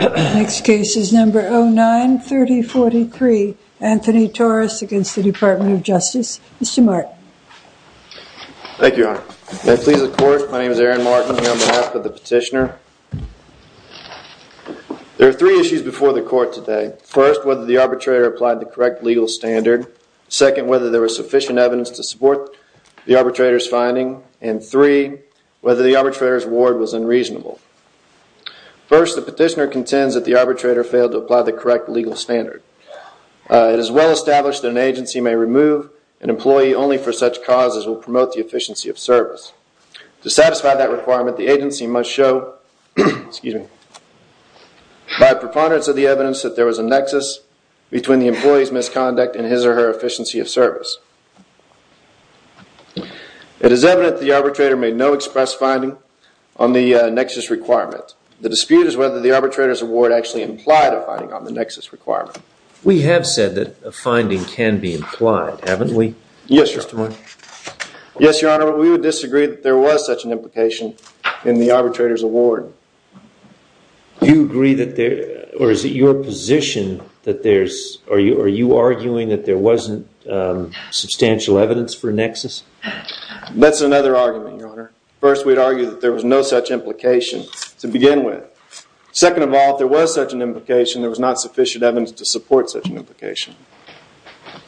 The next case is number 09-3043, Anthony Torres against the Department of Justice. Mr. Martin. Thank you, Your Honor. May I please the Court? My name is Aaron Martin, here on behalf of first, whether the arbitrator applied the correct legal standard. Second, whether there was sufficient evidence to support the arbitrator's finding, and three, whether the arbitrator's reward was unreasonable. First, the petitioner contends that the arbitrator failed to apply the correct legal standard. It is well established that an agency may remove an employee only for such causes will promote the efficiency of service. To satisfy that requirement, the agency must show, by preponderance of the evidence that there is, between the employee's misconduct and his or her efficiency of service. It is evident that the arbitrator made no express finding on the nexus requirement. The dispute is whether the arbitrator's award actually implied a finding on the nexus requirement. We have said that a finding can be implied, haven't we? Yes, Your Honor. We would disagree that there was such an implication in the arbitrator's award. Do you agree that there, or is it your position that there's, are you arguing that there wasn't substantial evidence for a nexus? That's another argument, Your Honor. First, we'd argue that there was no such implication to begin with. Second of all, if there was such an implication, there was not sufficient evidence to support such an implication.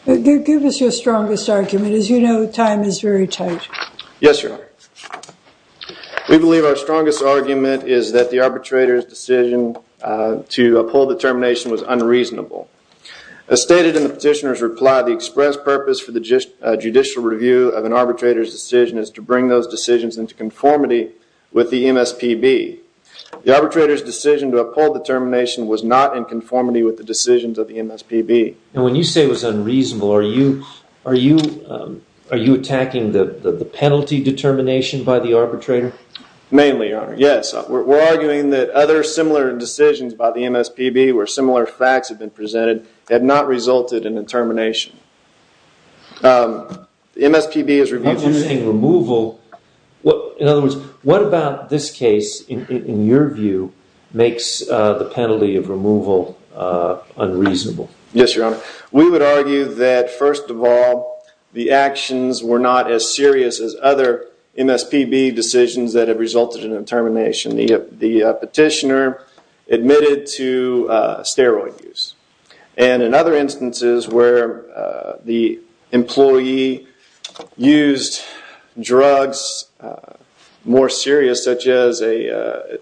Give us your strongest argument. As you know, time is very tight. Yes, Your Honor. We believe our strongest argument is that the arbitrator's decision to uphold the termination was unreasonable. As stated in the petitioner's reply, the express purpose for the judicial review of an arbitrator's decision is to bring those decisions into conformity with the MSPB. The arbitrator's decision to uphold the termination was not in conformity with the decisions of the MSPB. And when you say it was unreasonable, are you attacking the penalty determination by the arbitrator? Mainly, Your Honor. Yes. We're arguing that other similar decisions by the MSPB where similar facts have been presented have not resulted in a termination. MSPB is reviewed through… You're saying removal. In other words, what about this case, in your view, makes the penalty of removal unreasonable? Yes, Your Honor. We would argue that, first of all, the actions were not as serious as other MSPB decisions that have resulted in termination. The petitioner admitted to steroid use. And in other instances where the employee used drugs more serious, such as a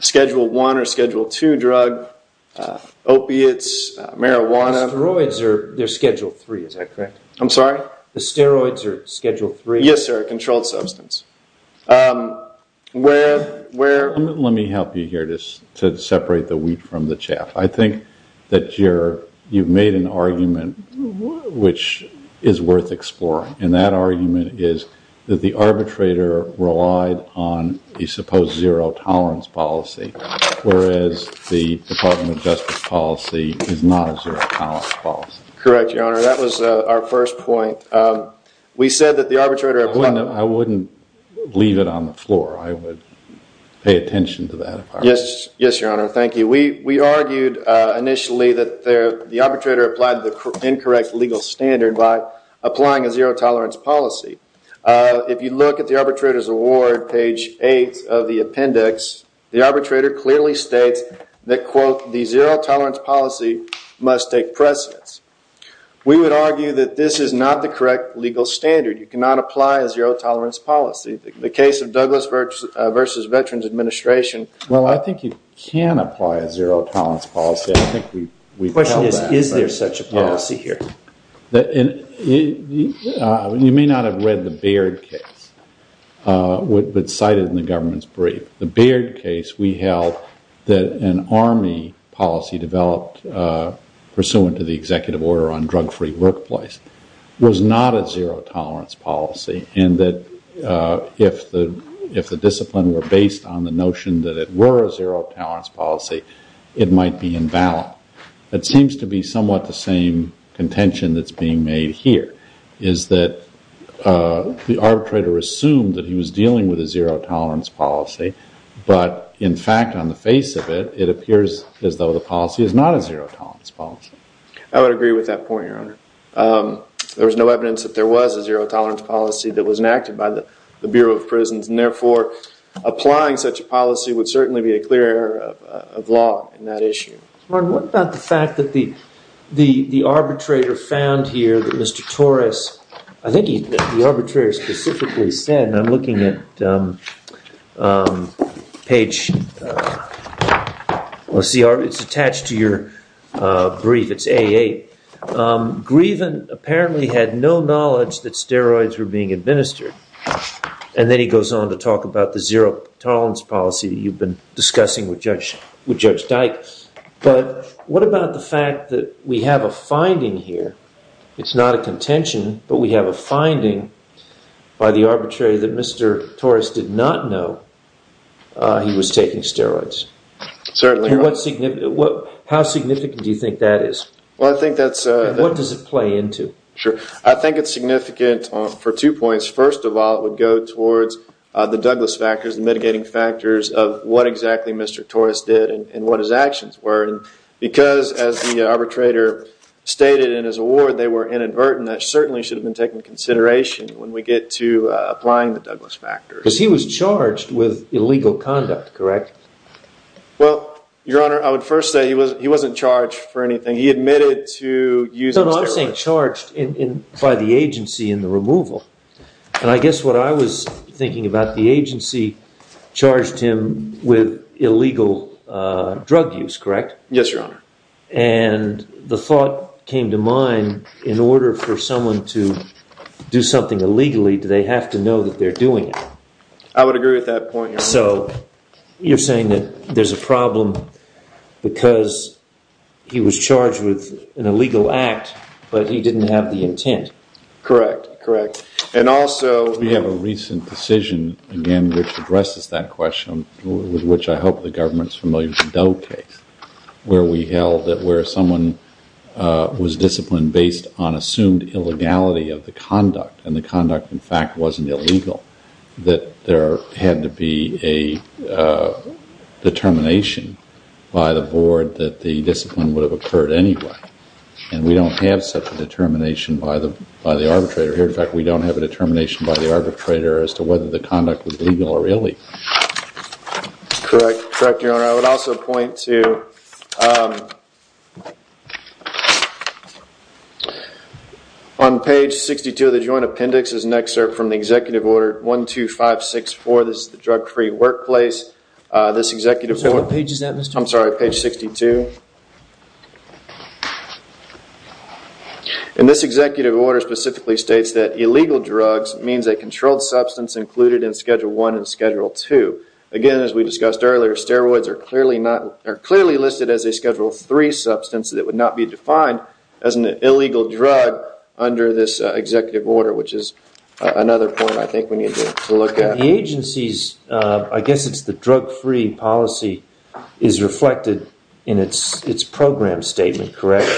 Schedule I or Schedule II drug, opiates, marijuana… Steroids are Schedule III, is that correct? I'm sorry? The steroids are Schedule III? Yes, sir. Controlled substance. Let me help you here to separate the wheat from the chaff. I think that you've made an argument which is worth exploring. And that argument is that the arbitrator relied on a supposed zero-tolerance policy, whereas the Department of Justice policy is not a zero-tolerance policy. Correct, Your Honor. That was our first point. We said that the arbitrator… I wouldn't leave it on the floor. I would pay attention to that. Yes, Your Honor. Thank you. We argued initially that the arbitrator applied the incorrect legal standard by applying a zero-tolerance policy. If you look at the arbitrator's award, page 8 of the appendix, the arbitrator clearly states that, quote, the zero-tolerance policy must take precedence. We would argue that this is not the correct legal standard. You cannot apply a zero-tolerance policy. In the case of Douglas v. Veterans Administration… Well, I think you can apply a zero-tolerance policy. I think we… The question is, is there such a policy here? You may not have read the Baird case, but it's cited in the government's brief. The Baird case we held that an Army policy developed pursuant to the executive order on drug-free workplace was not a zero-tolerance policy, and that if the discipline were based on the notion that it were a zero-tolerance policy, it might be invalid. It seems to be somewhat the same contention that's being made here, is that the arbitrator assumed that he was dealing with a zero-tolerance policy, but in fact, on the face of it, it appears as though the policy is not a zero-tolerance policy. I would agree with that point, Your Honor. There was no evidence that there was a zero-tolerance policy that was enacted by the Bureau of Prisons, and therefore, applying such a policy would certainly be a clear error of law in that issue. Martin, what about the fact that the arbitrator found here that Mr. Torres, I think the arbitrator specifically said, and I'm looking at page, let's see, it's attached to your brief, it's A8, Grieven apparently had no knowledge that steroids were being administered, And then he goes on to talk about the zero-tolerance policy that you've been discussing with Judge Dyke. But what about the fact that we have a finding here, it's not a contention, but we have a finding by the arbitrator that Mr. Torres did not know he was taking steroids? Certainly, Your Honor. How significant do you think that is? What does it play into? Sure. I think it's significant for two points. First of all, it would go towards the Douglas factors, the mitigating factors of what exactly Mr. Torres did and what his actions were. Because, as the arbitrator stated in his award, they were inadvertent, that certainly should have been taken into consideration when we get to applying the Douglas factors. Because he was charged with illegal conduct, correct? Well, Your Honor, I would first say he wasn't charged for anything. He admitted to using steroids. He wasn't charged by the agency in the removal. And I guess what I was thinking about, the agency charged him with illegal drug use, correct? Yes, Your Honor. And the thought came to mind, in order for someone to do something illegally, do they have to know that they're doing it? So you're saying that there's a problem because he was charged with an illegal act, but he didn't have the intent. Correct, correct. And also, we have a recent decision, again, which addresses that question, with which I hope the government's familiar with the Doe case, where we held that where someone was disciplined based on assumed illegality of the conduct, and the conduct, in fact, wasn't illegal, that there had to be a determination by the board that the discipline would have occurred anyway. And we don't have such a determination by the arbitrator here. In fact, we don't have a determination by the arbitrator as to whether the conduct was legal or illegal. Correct, correct, Your Honor. Your Honor, I would also point to, on page 62 of the joint appendix is an excerpt from the executive order 12564. This is the drug-free workplace. So what page is that, Mr. McClain? I'm sorry, page 62. And this executive order specifically states that illegal drugs means a controlled substance included in Schedule 1 and Schedule 2. Again, as we discussed earlier, steroids are clearly listed as a Schedule 3 substance that would not be defined as an illegal drug under this executive order, which is another point I think we need to look at. The agency's, I guess it's the drug-free policy, is reflected in its program statement, correct?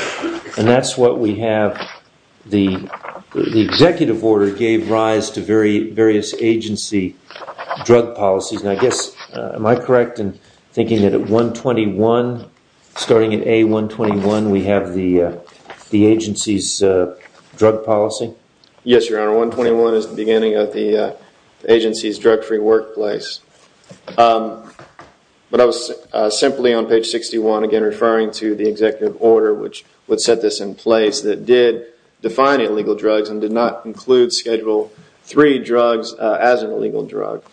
And that's what we have. The executive order gave rise to various agency drug policies. And I guess, am I correct in thinking that at 121, starting at A121, we have the agency's drug policy? Yes, Your Honor. 121 is the beginning of the agency's drug-free workplace. But I was simply on page 61, again, referring to the executive order, which would set this in place, that did define illegal drugs and did not include Schedule 3 drugs as an illegal drug.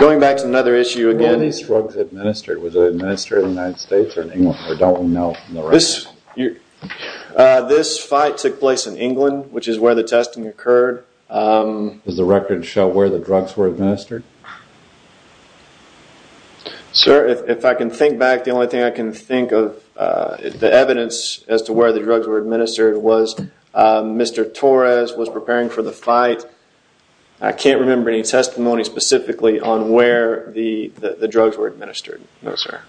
Going back to another issue again. Where were these drugs administered? Was it administered in the United States or in England? Or don't we know from the record? This fight took place in England, which is where the testing occurred. Does the record show where the drugs were administered? Sir, if I can think back, the only thing I can think of, the evidence as to where the drugs were administered, was Mr Torres was preparing for the fight. I can't remember any testimony specifically on where the drugs were administered. No, sir.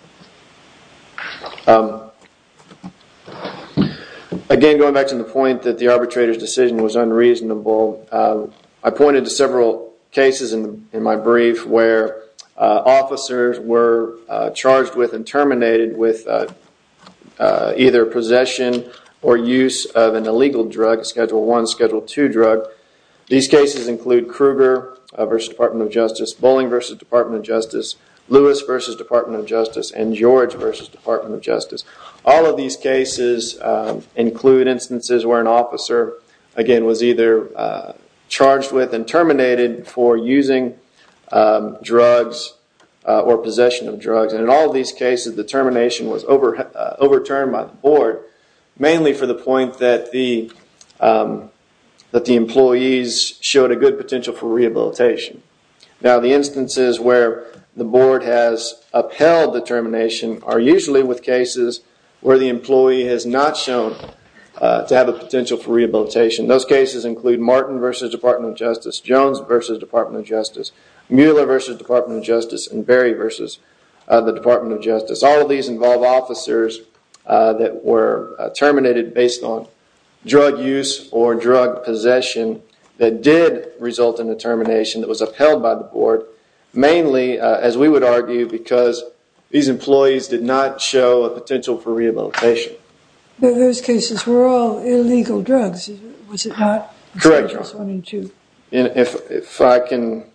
Again, going back to the point that the arbitrator's decision was unreasonable, I pointed to several cases in my brief where officers were charged with and terminated with either possession or use of an illegal drug, Schedule 1, Schedule 2 drug. These cases include Kruger v. Department of Justice, Bolling v. Department of Justice, Lewis v. Department of Justice, and George v. Department of Justice. All of these cases include instances where an officer, again, was either charged with and terminated for using drugs or possession of drugs. In all of these cases, the termination was overturned by the board, mainly for the point that the employees showed a good potential for rehabilitation. Now, the instances where the board has upheld the termination are usually with cases where the employee has not shown to have a potential for rehabilitation. Those cases include Martin v. Department of Justice, Jones v. Department of Justice, Mueller v. Department of Justice, and Berry v. Department of Justice. All of these involve officers that were terminated based on drug use or drug possession that did result in the termination that was upheld by the board, mainly, as we would argue, because these employees did not show a potential for rehabilitation. Those cases were all illegal drugs, was it not? Correct, Your Honor. If I can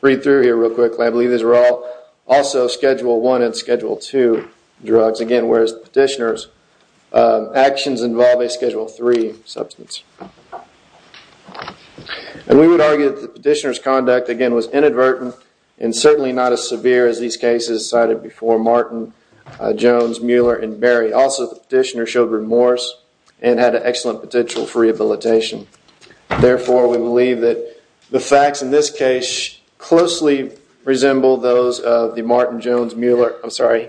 read through here real quickly, I believe these were all also Schedule 1 and Schedule 2 drugs, again, whereas the petitioner's actions involve a Schedule 3 substance. We would argue that the petitioner's conduct, again, was inadvertent and certainly not as severe as these cases cited before Martin, Jones, Mueller, and Berry. Also, the petitioner showed remorse and had an excellent potential for rehabilitation. Therefore, we believe that the facts in this case closely resemble those of the Martin, Jones, Mueller I'm sorry,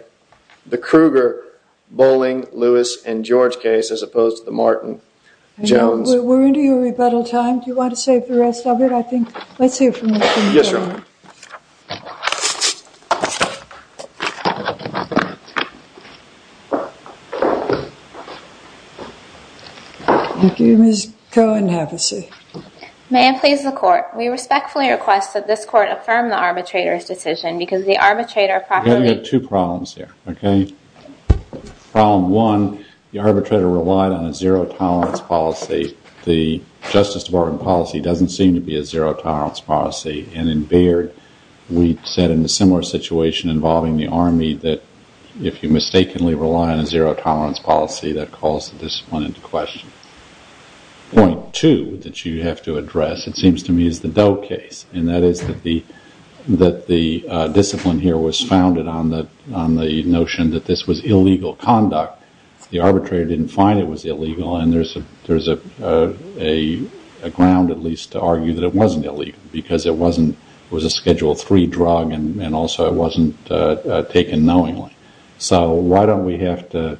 the Kruger, Boling, Lewis, and George case as opposed to the Martin, Jones. We're into your rebuttal time. Do you want to save the rest of it? Let's hear from Ms. Cohen. Yes, Your Honor. Thank you, Ms. Cohen. Have a seat. May it please the Court, we respectfully request that this Court affirm the arbitrator's decision We have two problems here, okay? Problem one, the arbitrator relied on a zero-tolerance policy. The Justice Department policy doesn't seem to be a zero-tolerance policy. And in Baird, we said in a similar situation involving the Army that if you mistakenly rely on a zero-tolerance policy, that calls the discipline into question. Point two that you have to address, it seems to me, is the Doe case. And that is that the discipline here was founded on the notion that this was illegal conduct. The arbitrator didn't find it was illegal and there's a ground, at least, to argue that it wasn't illegal because it was a Schedule III drug and also it wasn't taken knowingly. So why don't we have to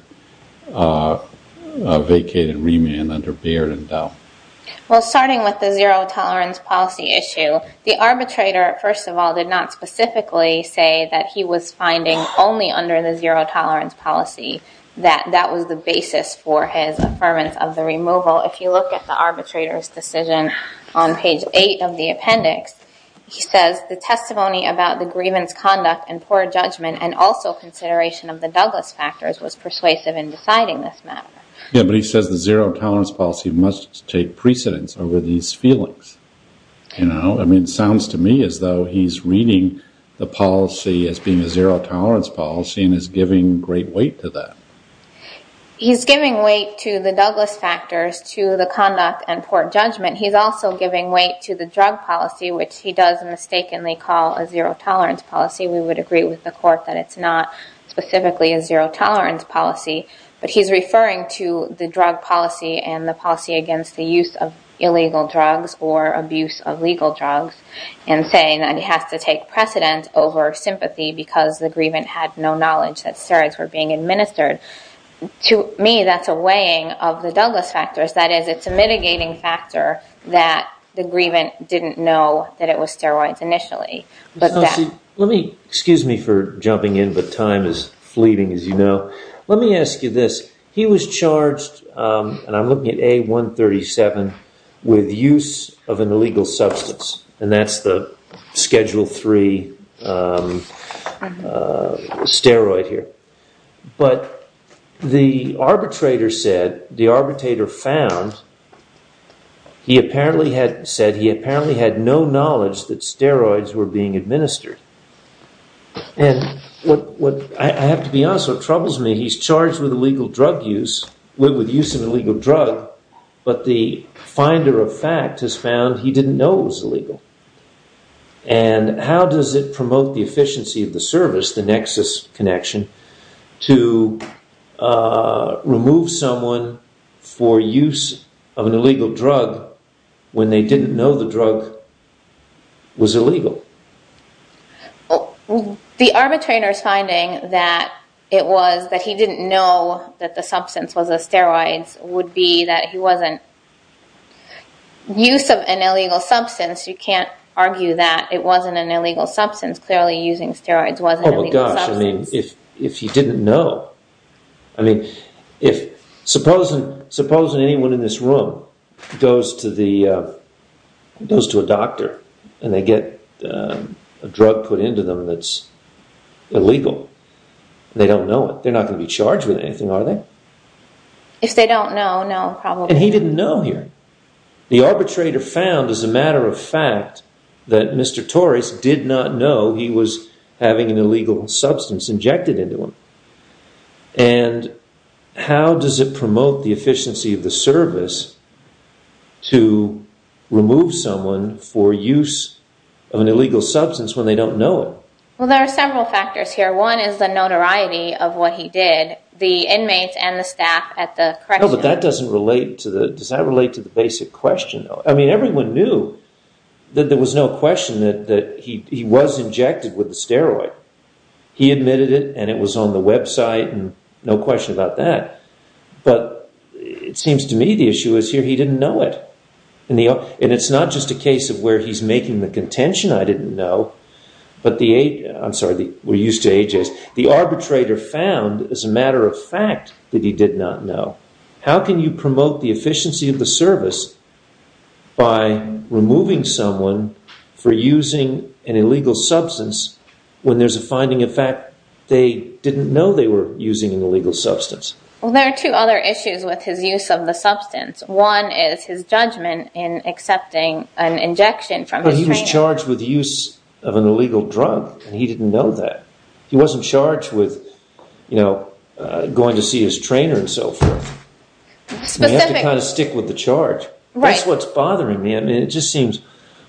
vacate and remand under Baird and Doe? Well, starting with the zero-tolerance policy issue, the arbitrator, first of all, did not specifically say that he was finding only under the zero-tolerance policy that that was the basis for his affirmance of the removal. If you look at the arbitrator's decision on page 8 of the appendix, he says the testimony about the grievance conduct and poor judgment and also consideration of the Douglas factors was persuasive in deciding this matter. Yeah, but he says the zero-tolerance policy must take precedence over these feelings. I mean, it sounds to me as though he's reading the policy as being a zero-tolerance policy and is giving great weight to that. He's giving weight to the Douglas factors, to the conduct and poor judgment. He's also giving weight to the drug policy, which he does mistakenly call a zero-tolerance policy. We would agree with the court that it's not specifically a zero-tolerance policy. But he's referring to the drug policy and the policy against the use of illegal drugs or abuse of legal drugs and saying that it has to take precedence over sympathy because the grievant had no knowledge that steroids were being administered. To me, that's a weighing of the Douglas factors. That is, it's a mitigating factor that the grievant didn't know that it was steroids initially. Excuse me for jumping in, but time is fleeting, as you know. Let me ask you this. He was charged, and I'm looking at A137, with use of an illegal substance, and that's the Schedule III steroid here. But the arbitrator said, the arbitrator found, he apparently had said he apparently had no knowledge that steroids were being administered. And I have to be honest, what troubles me, he's charged with illegal drug use, with use of an illegal drug, but the finder of fact has found he didn't know it was illegal. And how does it promote the efficiency of the service, the nexus connection, to remove someone for use of an illegal drug when they didn't know the drug was illegal? The arbitrator's finding that it was that he didn't know that the substance was the steroids would be that he wasn't, use of an illegal substance, you can't argue that it wasn't an illegal substance, clearly using steroids wasn't an illegal substance. Oh my gosh, I mean, if he didn't know, I mean, supposing anyone in this room goes to a doctor and they get a drug put into them that's illegal, they don't know it, they're not going to be charged with anything, are they? If they don't know, no, probably. And he didn't know here. The arbitrator found, as a matter of fact, that Mr. Torres did not know he was having an illegal substance injected into him. And how does it promote the efficiency of the service to remove someone for use of an illegal substance when they don't know it? Well, there are several factors here. One is the notoriety of what he did. The inmates and the staff at the correctional... No, but that doesn't relate to the... Does that relate to the basic question, though? I mean, everyone knew that there was no question that he was injected with the steroid. He admitted it and it was on the website and no question about that. But it seems to me the issue is here he didn't know it. And it's not just a case of where he's making the contention, I didn't know, but the... I'm sorry, we're used to AJs. The arbitrator found, as a matter of fact, that he did not know. How can you promote the efficiency of the service by removing someone for using an illegal substance when there's a finding, in fact, they didn't know they were using an illegal substance? Well, there are two other issues with his use of the substance. One is his judgment in accepting an injection from his trainer. But he was charged with use of an illegal drug and he didn't know that. He wasn't charged with going to see his trainer and so forth. You have to kind of stick with the charge. That's what's bothering me. I mean, it just seems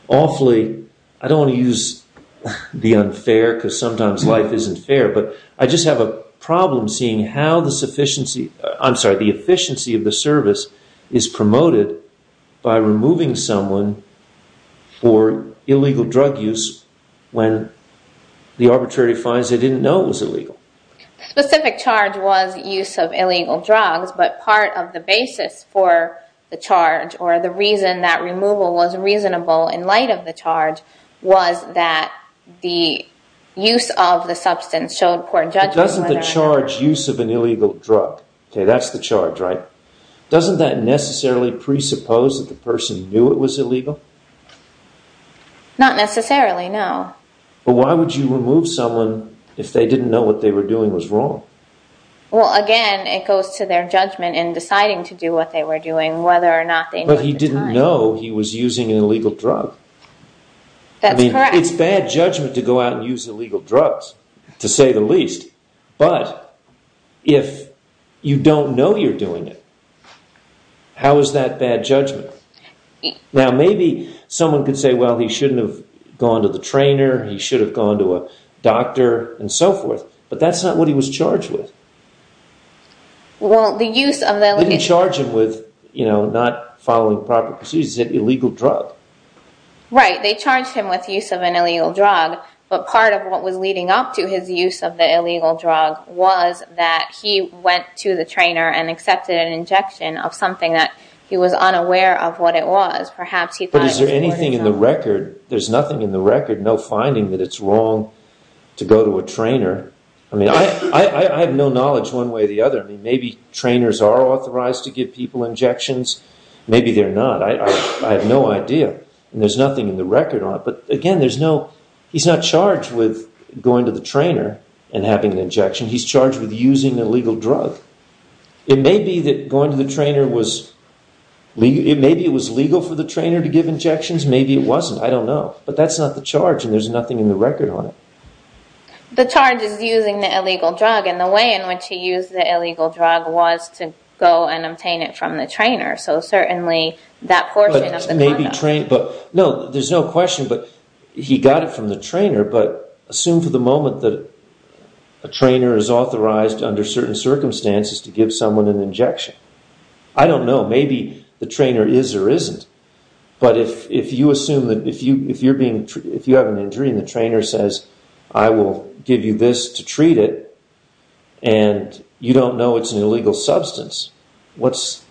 awfully... I don't want to use the unfair because sometimes life isn't fair, but I just have a problem seeing how the efficiency of the service is promoted by removing someone for illegal drug use when the arbitrator finds they didn't know it was illegal. The specific charge was use of illegal drugs, but part of the basis for the charge or the reason that removal was reasonable in light of the charge was that the use of the substance showed poor judgment... But doesn't the charge use of an illegal drug? OK, that's the charge, right? Doesn't that necessarily presuppose that the person knew it was illegal? Not necessarily, no. But why would you remove someone if they didn't know what they were doing was wrong? Well, again, it goes to their judgment in deciding to do what they were doing, whether or not they knew at the time. But he didn't know he was using an illegal drug. That's correct. I mean, it's bad judgment to go out and use illegal drugs, to say the least. But if you don't know you're doing it, how is that bad judgment? Now, maybe someone could say, well, he shouldn't have gone to the trainer, he should have gone to a doctor and so forth, but that's not what he was charged with. Well, the use of the illegal... They didn't charge him with not following proper procedures. He said illegal drug. Right, they charged him with use of an illegal drug, but part of what was leading up to his use of the illegal drug was that he went to the trainer and accepted an injection of something that he was unaware of what it was. But is there anything in the record, there's nothing in the record, no finding that it's wrong to go to a trainer? I mean, I have no knowledge one way or the other. Maybe trainers are authorized to give people injections. Maybe they're not. I have no idea. And there's nothing in the record on it. But again, he's not charged with going to the trainer and having an injection. He's charged with using an illegal drug. It may be that going to the trainer was... Maybe it was legal for the trainer to give injections. Maybe it wasn't. I don't know. But that's not the charge, and there's nothing in the record on it. The charge is using the illegal drug, and the way in which he used the illegal drug was to go and obtain it from the trainer, so certainly that portion of the conduct... No, there's no question, but he got it from the trainer, but assume for the moment that a trainer is authorized under certain circumstances to give someone an injection. I don't know. Maybe the trainer is or isn't. But if you assume that... If you have an injury and the trainer says, I will give you this to treat it, and you don't know it's an illegal substance, what's...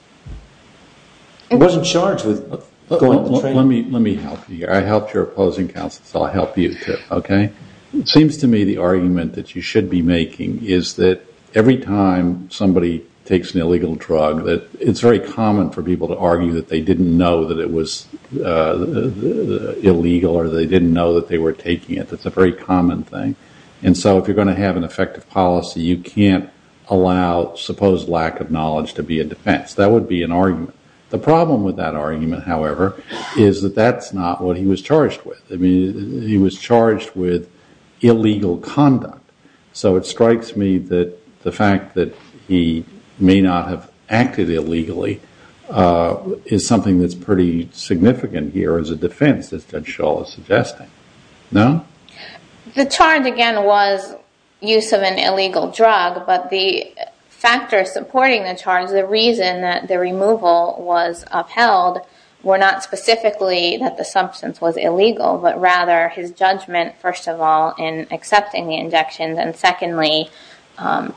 He wasn't charged with going to the trainer. Let me help you here. I helped your opposing counsel, so I'll help you, too, okay? It seems to me the argument that you should be making is that every time somebody takes an illegal drug, it's very common for people to argue that they didn't know that it was illegal or they didn't know that they were taking it. That's a very common thing. And so if you're going to have an effective policy, you can't allow supposed lack of knowledge to be a defense. That would be an argument. The problem with that argument, however, is that that's not what he was charged with. I mean, he was charged with illegal conduct. So it strikes me that the fact that he may not have acted illegally is something that's pretty significant here as a defense, as Judge Schall is suggesting. No? The charge, again, was use of an illegal drug, but the factors supporting the charge, the reason that the removal was upheld, were not specifically that the substance was illegal, but rather his judgment, first of all, in accepting the injections, and secondly,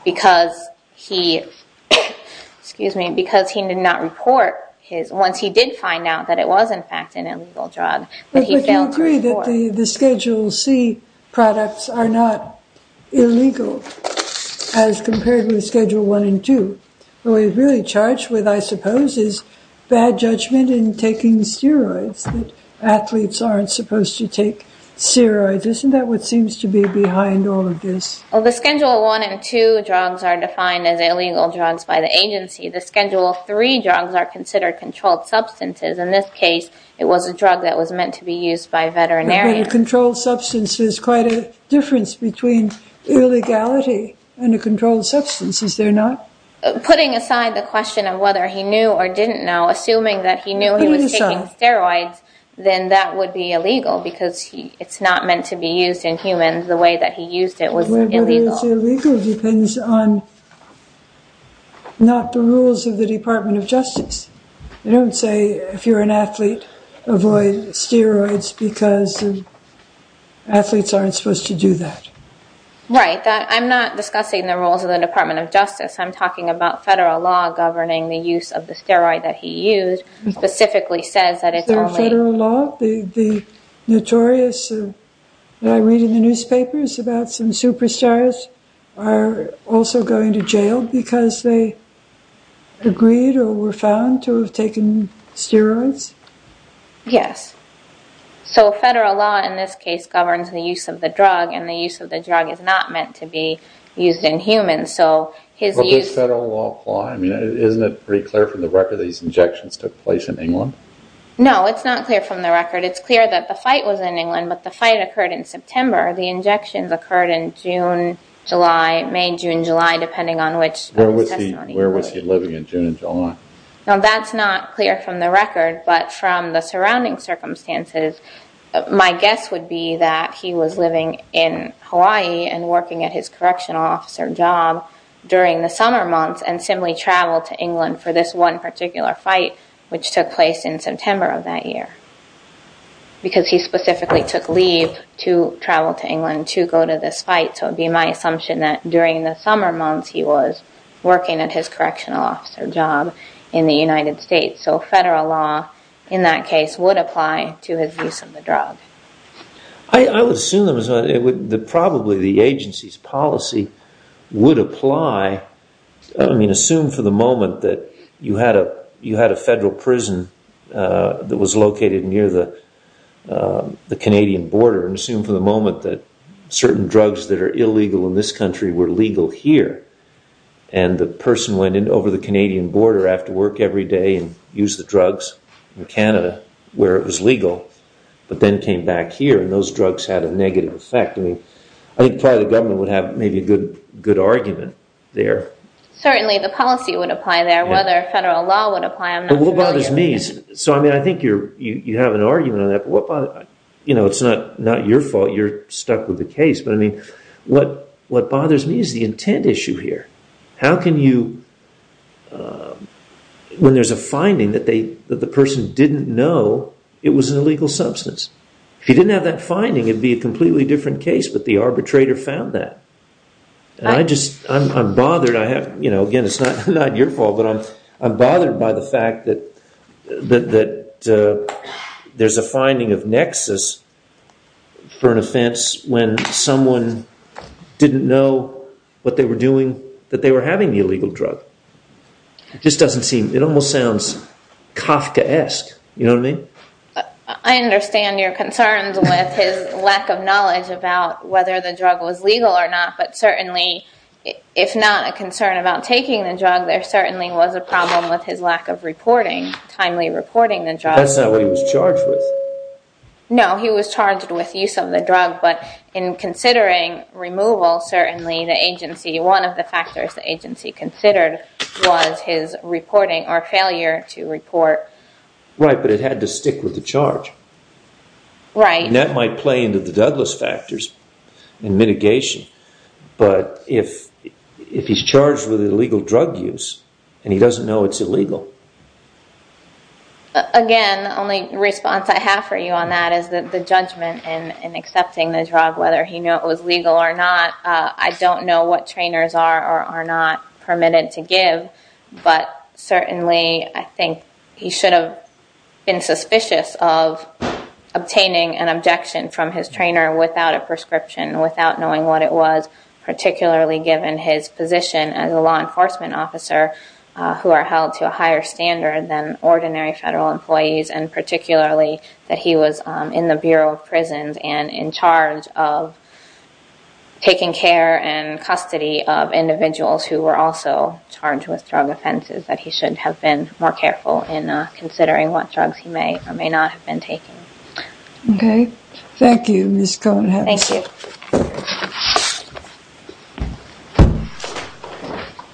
because he did not report once he did find out that it was, in fact, an illegal drug, that he failed to report. But would you agree that the Schedule C products are not illegal as compared with Schedule 1 and 2? What he was really charged with, I suppose, is bad judgment in taking steroids, that athletes aren't supposed to take steroids. Isn't that what seems to be behind all of this? The Schedule 1 and 2 drugs are defined as illegal drugs by the agency. The Schedule 3 drugs are considered controlled substances. In this case, it was a drug that was meant to be used by veterinarians. But controlled substance is quite a difference between illegality and a controlled substance, is there not? Putting aside the question of whether he knew or didn't know, assuming that he knew he was taking steroids, then that would be illegal because it's not meant to be used in humans. The way that he used it was illegal. Whether it's illegal depends on not the rules of the Department of Justice. They don't say, if you're an athlete, avoid steroids because athletes aren't supposed to do that. Right. I'm not discussing the rules of the Department of Justice. I'm talking about federal law governing the use of the steroid that he used, specifically says that it's illegal. Federal law? The notorious, that I read in the newspapers about some superstars are also going to jail because they agreed or were found to have taken steroids? Yes. So federal law, in this case, governs the use of the drug, and the use of the drug is not meant to be used in humans. So his use... But does federal law apply? I mean, isn't it pretty clear from the record these injections took place in England? No, it's not clear from the record. It's clear that the fight was in England, but the fight occurred in September. The injections occurred in June, July, May, June, July, depending on which... Where was he living in June and July? Now, that's not clear from the record, but from the surrounding circumstances, my guess would be that he was living in Hawaii and working at his correctional officer job during the summer months and simply traveled to England for this one particular fight, which took place in September of that year because he specifically took leave to travel to England to go to this fight. So it would be my assumption that during the summer months he was working at his correctional officer job in the United States. So federal law, in that case, would apply to his use of the drug. I would assume that probably the agency's policy would apply. I mean, assume for the moment that you had a federal prison that was located near the Canadian border, and assume for the moment that certain drugs that are illegal in this country were legal here, and the person went in over the Canadian border after work every day and used the drugs in Canada where it was legal, but then came back here and those drugs had a negative effect. I mean, I think probably the government would have maybe a good argument there. Certainly, the policy would apply there. Whether federal law would apply, I'm not familiar with. But what bothers me is... So, I mean, I think you have an argument on that, but what bothers... You know, it's not your fault you're stuck with the case, but I mean, what bothers me is the intent issue here. How can you... When there's a finding that the person didn't know it was an illegal substance. If you didn't have that finding, it would be a completely different case, but the arbitrator found that. And I just... I'm bothered. You know, again, it's not your fault, but I'm bothered by the fact that there's a finding of nexus for an offence when someone didn't know what they were doing, that they were having the illegal drug. It just doesn't seem... It almost sounds Kafkaesque, you know what I mean? I understand your concerns with his lack of knowledge about whether the drug was legal or not, but certainly, if not a concern about taking the drug, there certainly was a problem with his lack of reporting, timely reporting the drug. That's not what he was charged with. No, he was charged with use of the drug, but in considering removal, certainly the agency, one of the factors the agency considered was his reporting or failure to report. Right, but it had to stick with the charge. Right. And that might play into the Douglas factors and mitigation, but if he's charged with illegal drug use and he doesn't know it's illegal... Again, the only response I have for you on that is the judgment in accepting the drug, whether he knew it was legal or not. I don't know what trainers are or are not permitted to give, but certainly I think he should have been suspicious of obtaining an objection from his trainer without a prescription, without knowing what it was, particularly given his position as a law enforcement officer who are held to a higher standard than ordinary federal employees and particularly that he was in the Bureau of Prisons and in charge of taking care and custody of individuals who were also charged with drug offenses, that he should have been more careful in considering what drugs he may or may not have been taking. Okay. Thank you, Ms. Cohen. Thank you.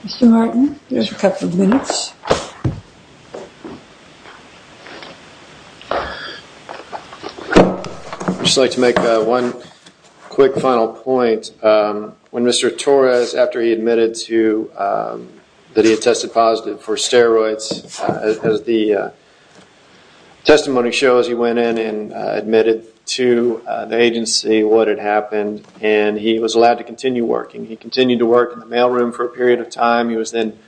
Mr. Martin, you have a couple of minutes. I'd just like to make one quick final point. When Mr. Torres, after he admitted to... that he had tested positive for steroids, as the testimony shows, he went in and admitted to the agency what had happened, and he was allowed to continue working. He continued to work in the mailroom for a period of time. He was then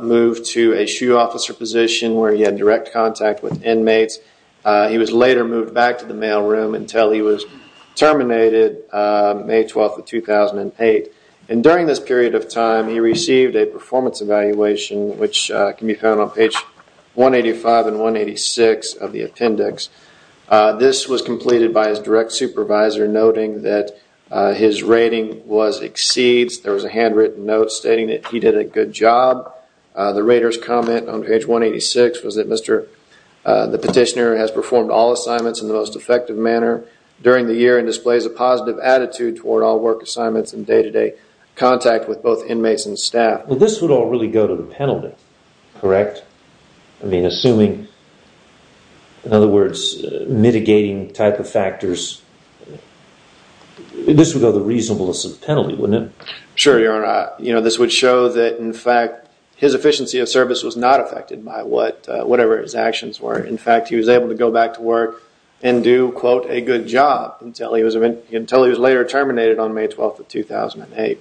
moved to a SHU officer position where he had direct contact with inmates. He was later moved back to the mailroom until he was terminated May 12, 2008. And during this period of time, he received a performance evaluation, which can be found on page 185 and 186 of the appendix. This was completed by his direct supervisor, noting that his rating was exceeds. There was a handwritten note stating that he did a good job. The rater's comment on page 186 was that the petitioner has performed all assignments in the most effective manner during the year and displays a positive attitude toward all work assignments and day-to-day contact with both inmates and staff. Well, this would all really go to the penalty, correct? I mean, assuming... in other words, mitigating type of factors... this would go to the reasonableness of the penalty, wouldn't it? Sure, Your Honor. This would show that, in fact, his efficiency of service was not affected by whatever his actions were. In fact, he was able to go back to work and do, quote, a good job until he was later terminated on May 12, 2008.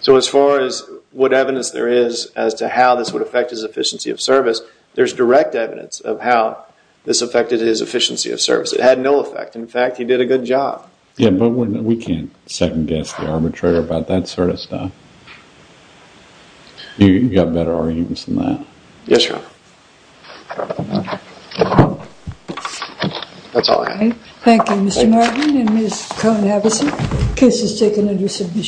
So as far as what evidence there is as to how this would affect his efficiency of service, there's direct evidence of how this affected his efficiency of service. It had no effect. In fact, he did a good job. Yeah, but we can't second-guess the arbitrator about that sort of stuff. You've got better arguments than that. Yes, Your Honor. That's all I have. Thank you, Mr. Martin and Ms. Cone-Havison. The case is taken in resolution.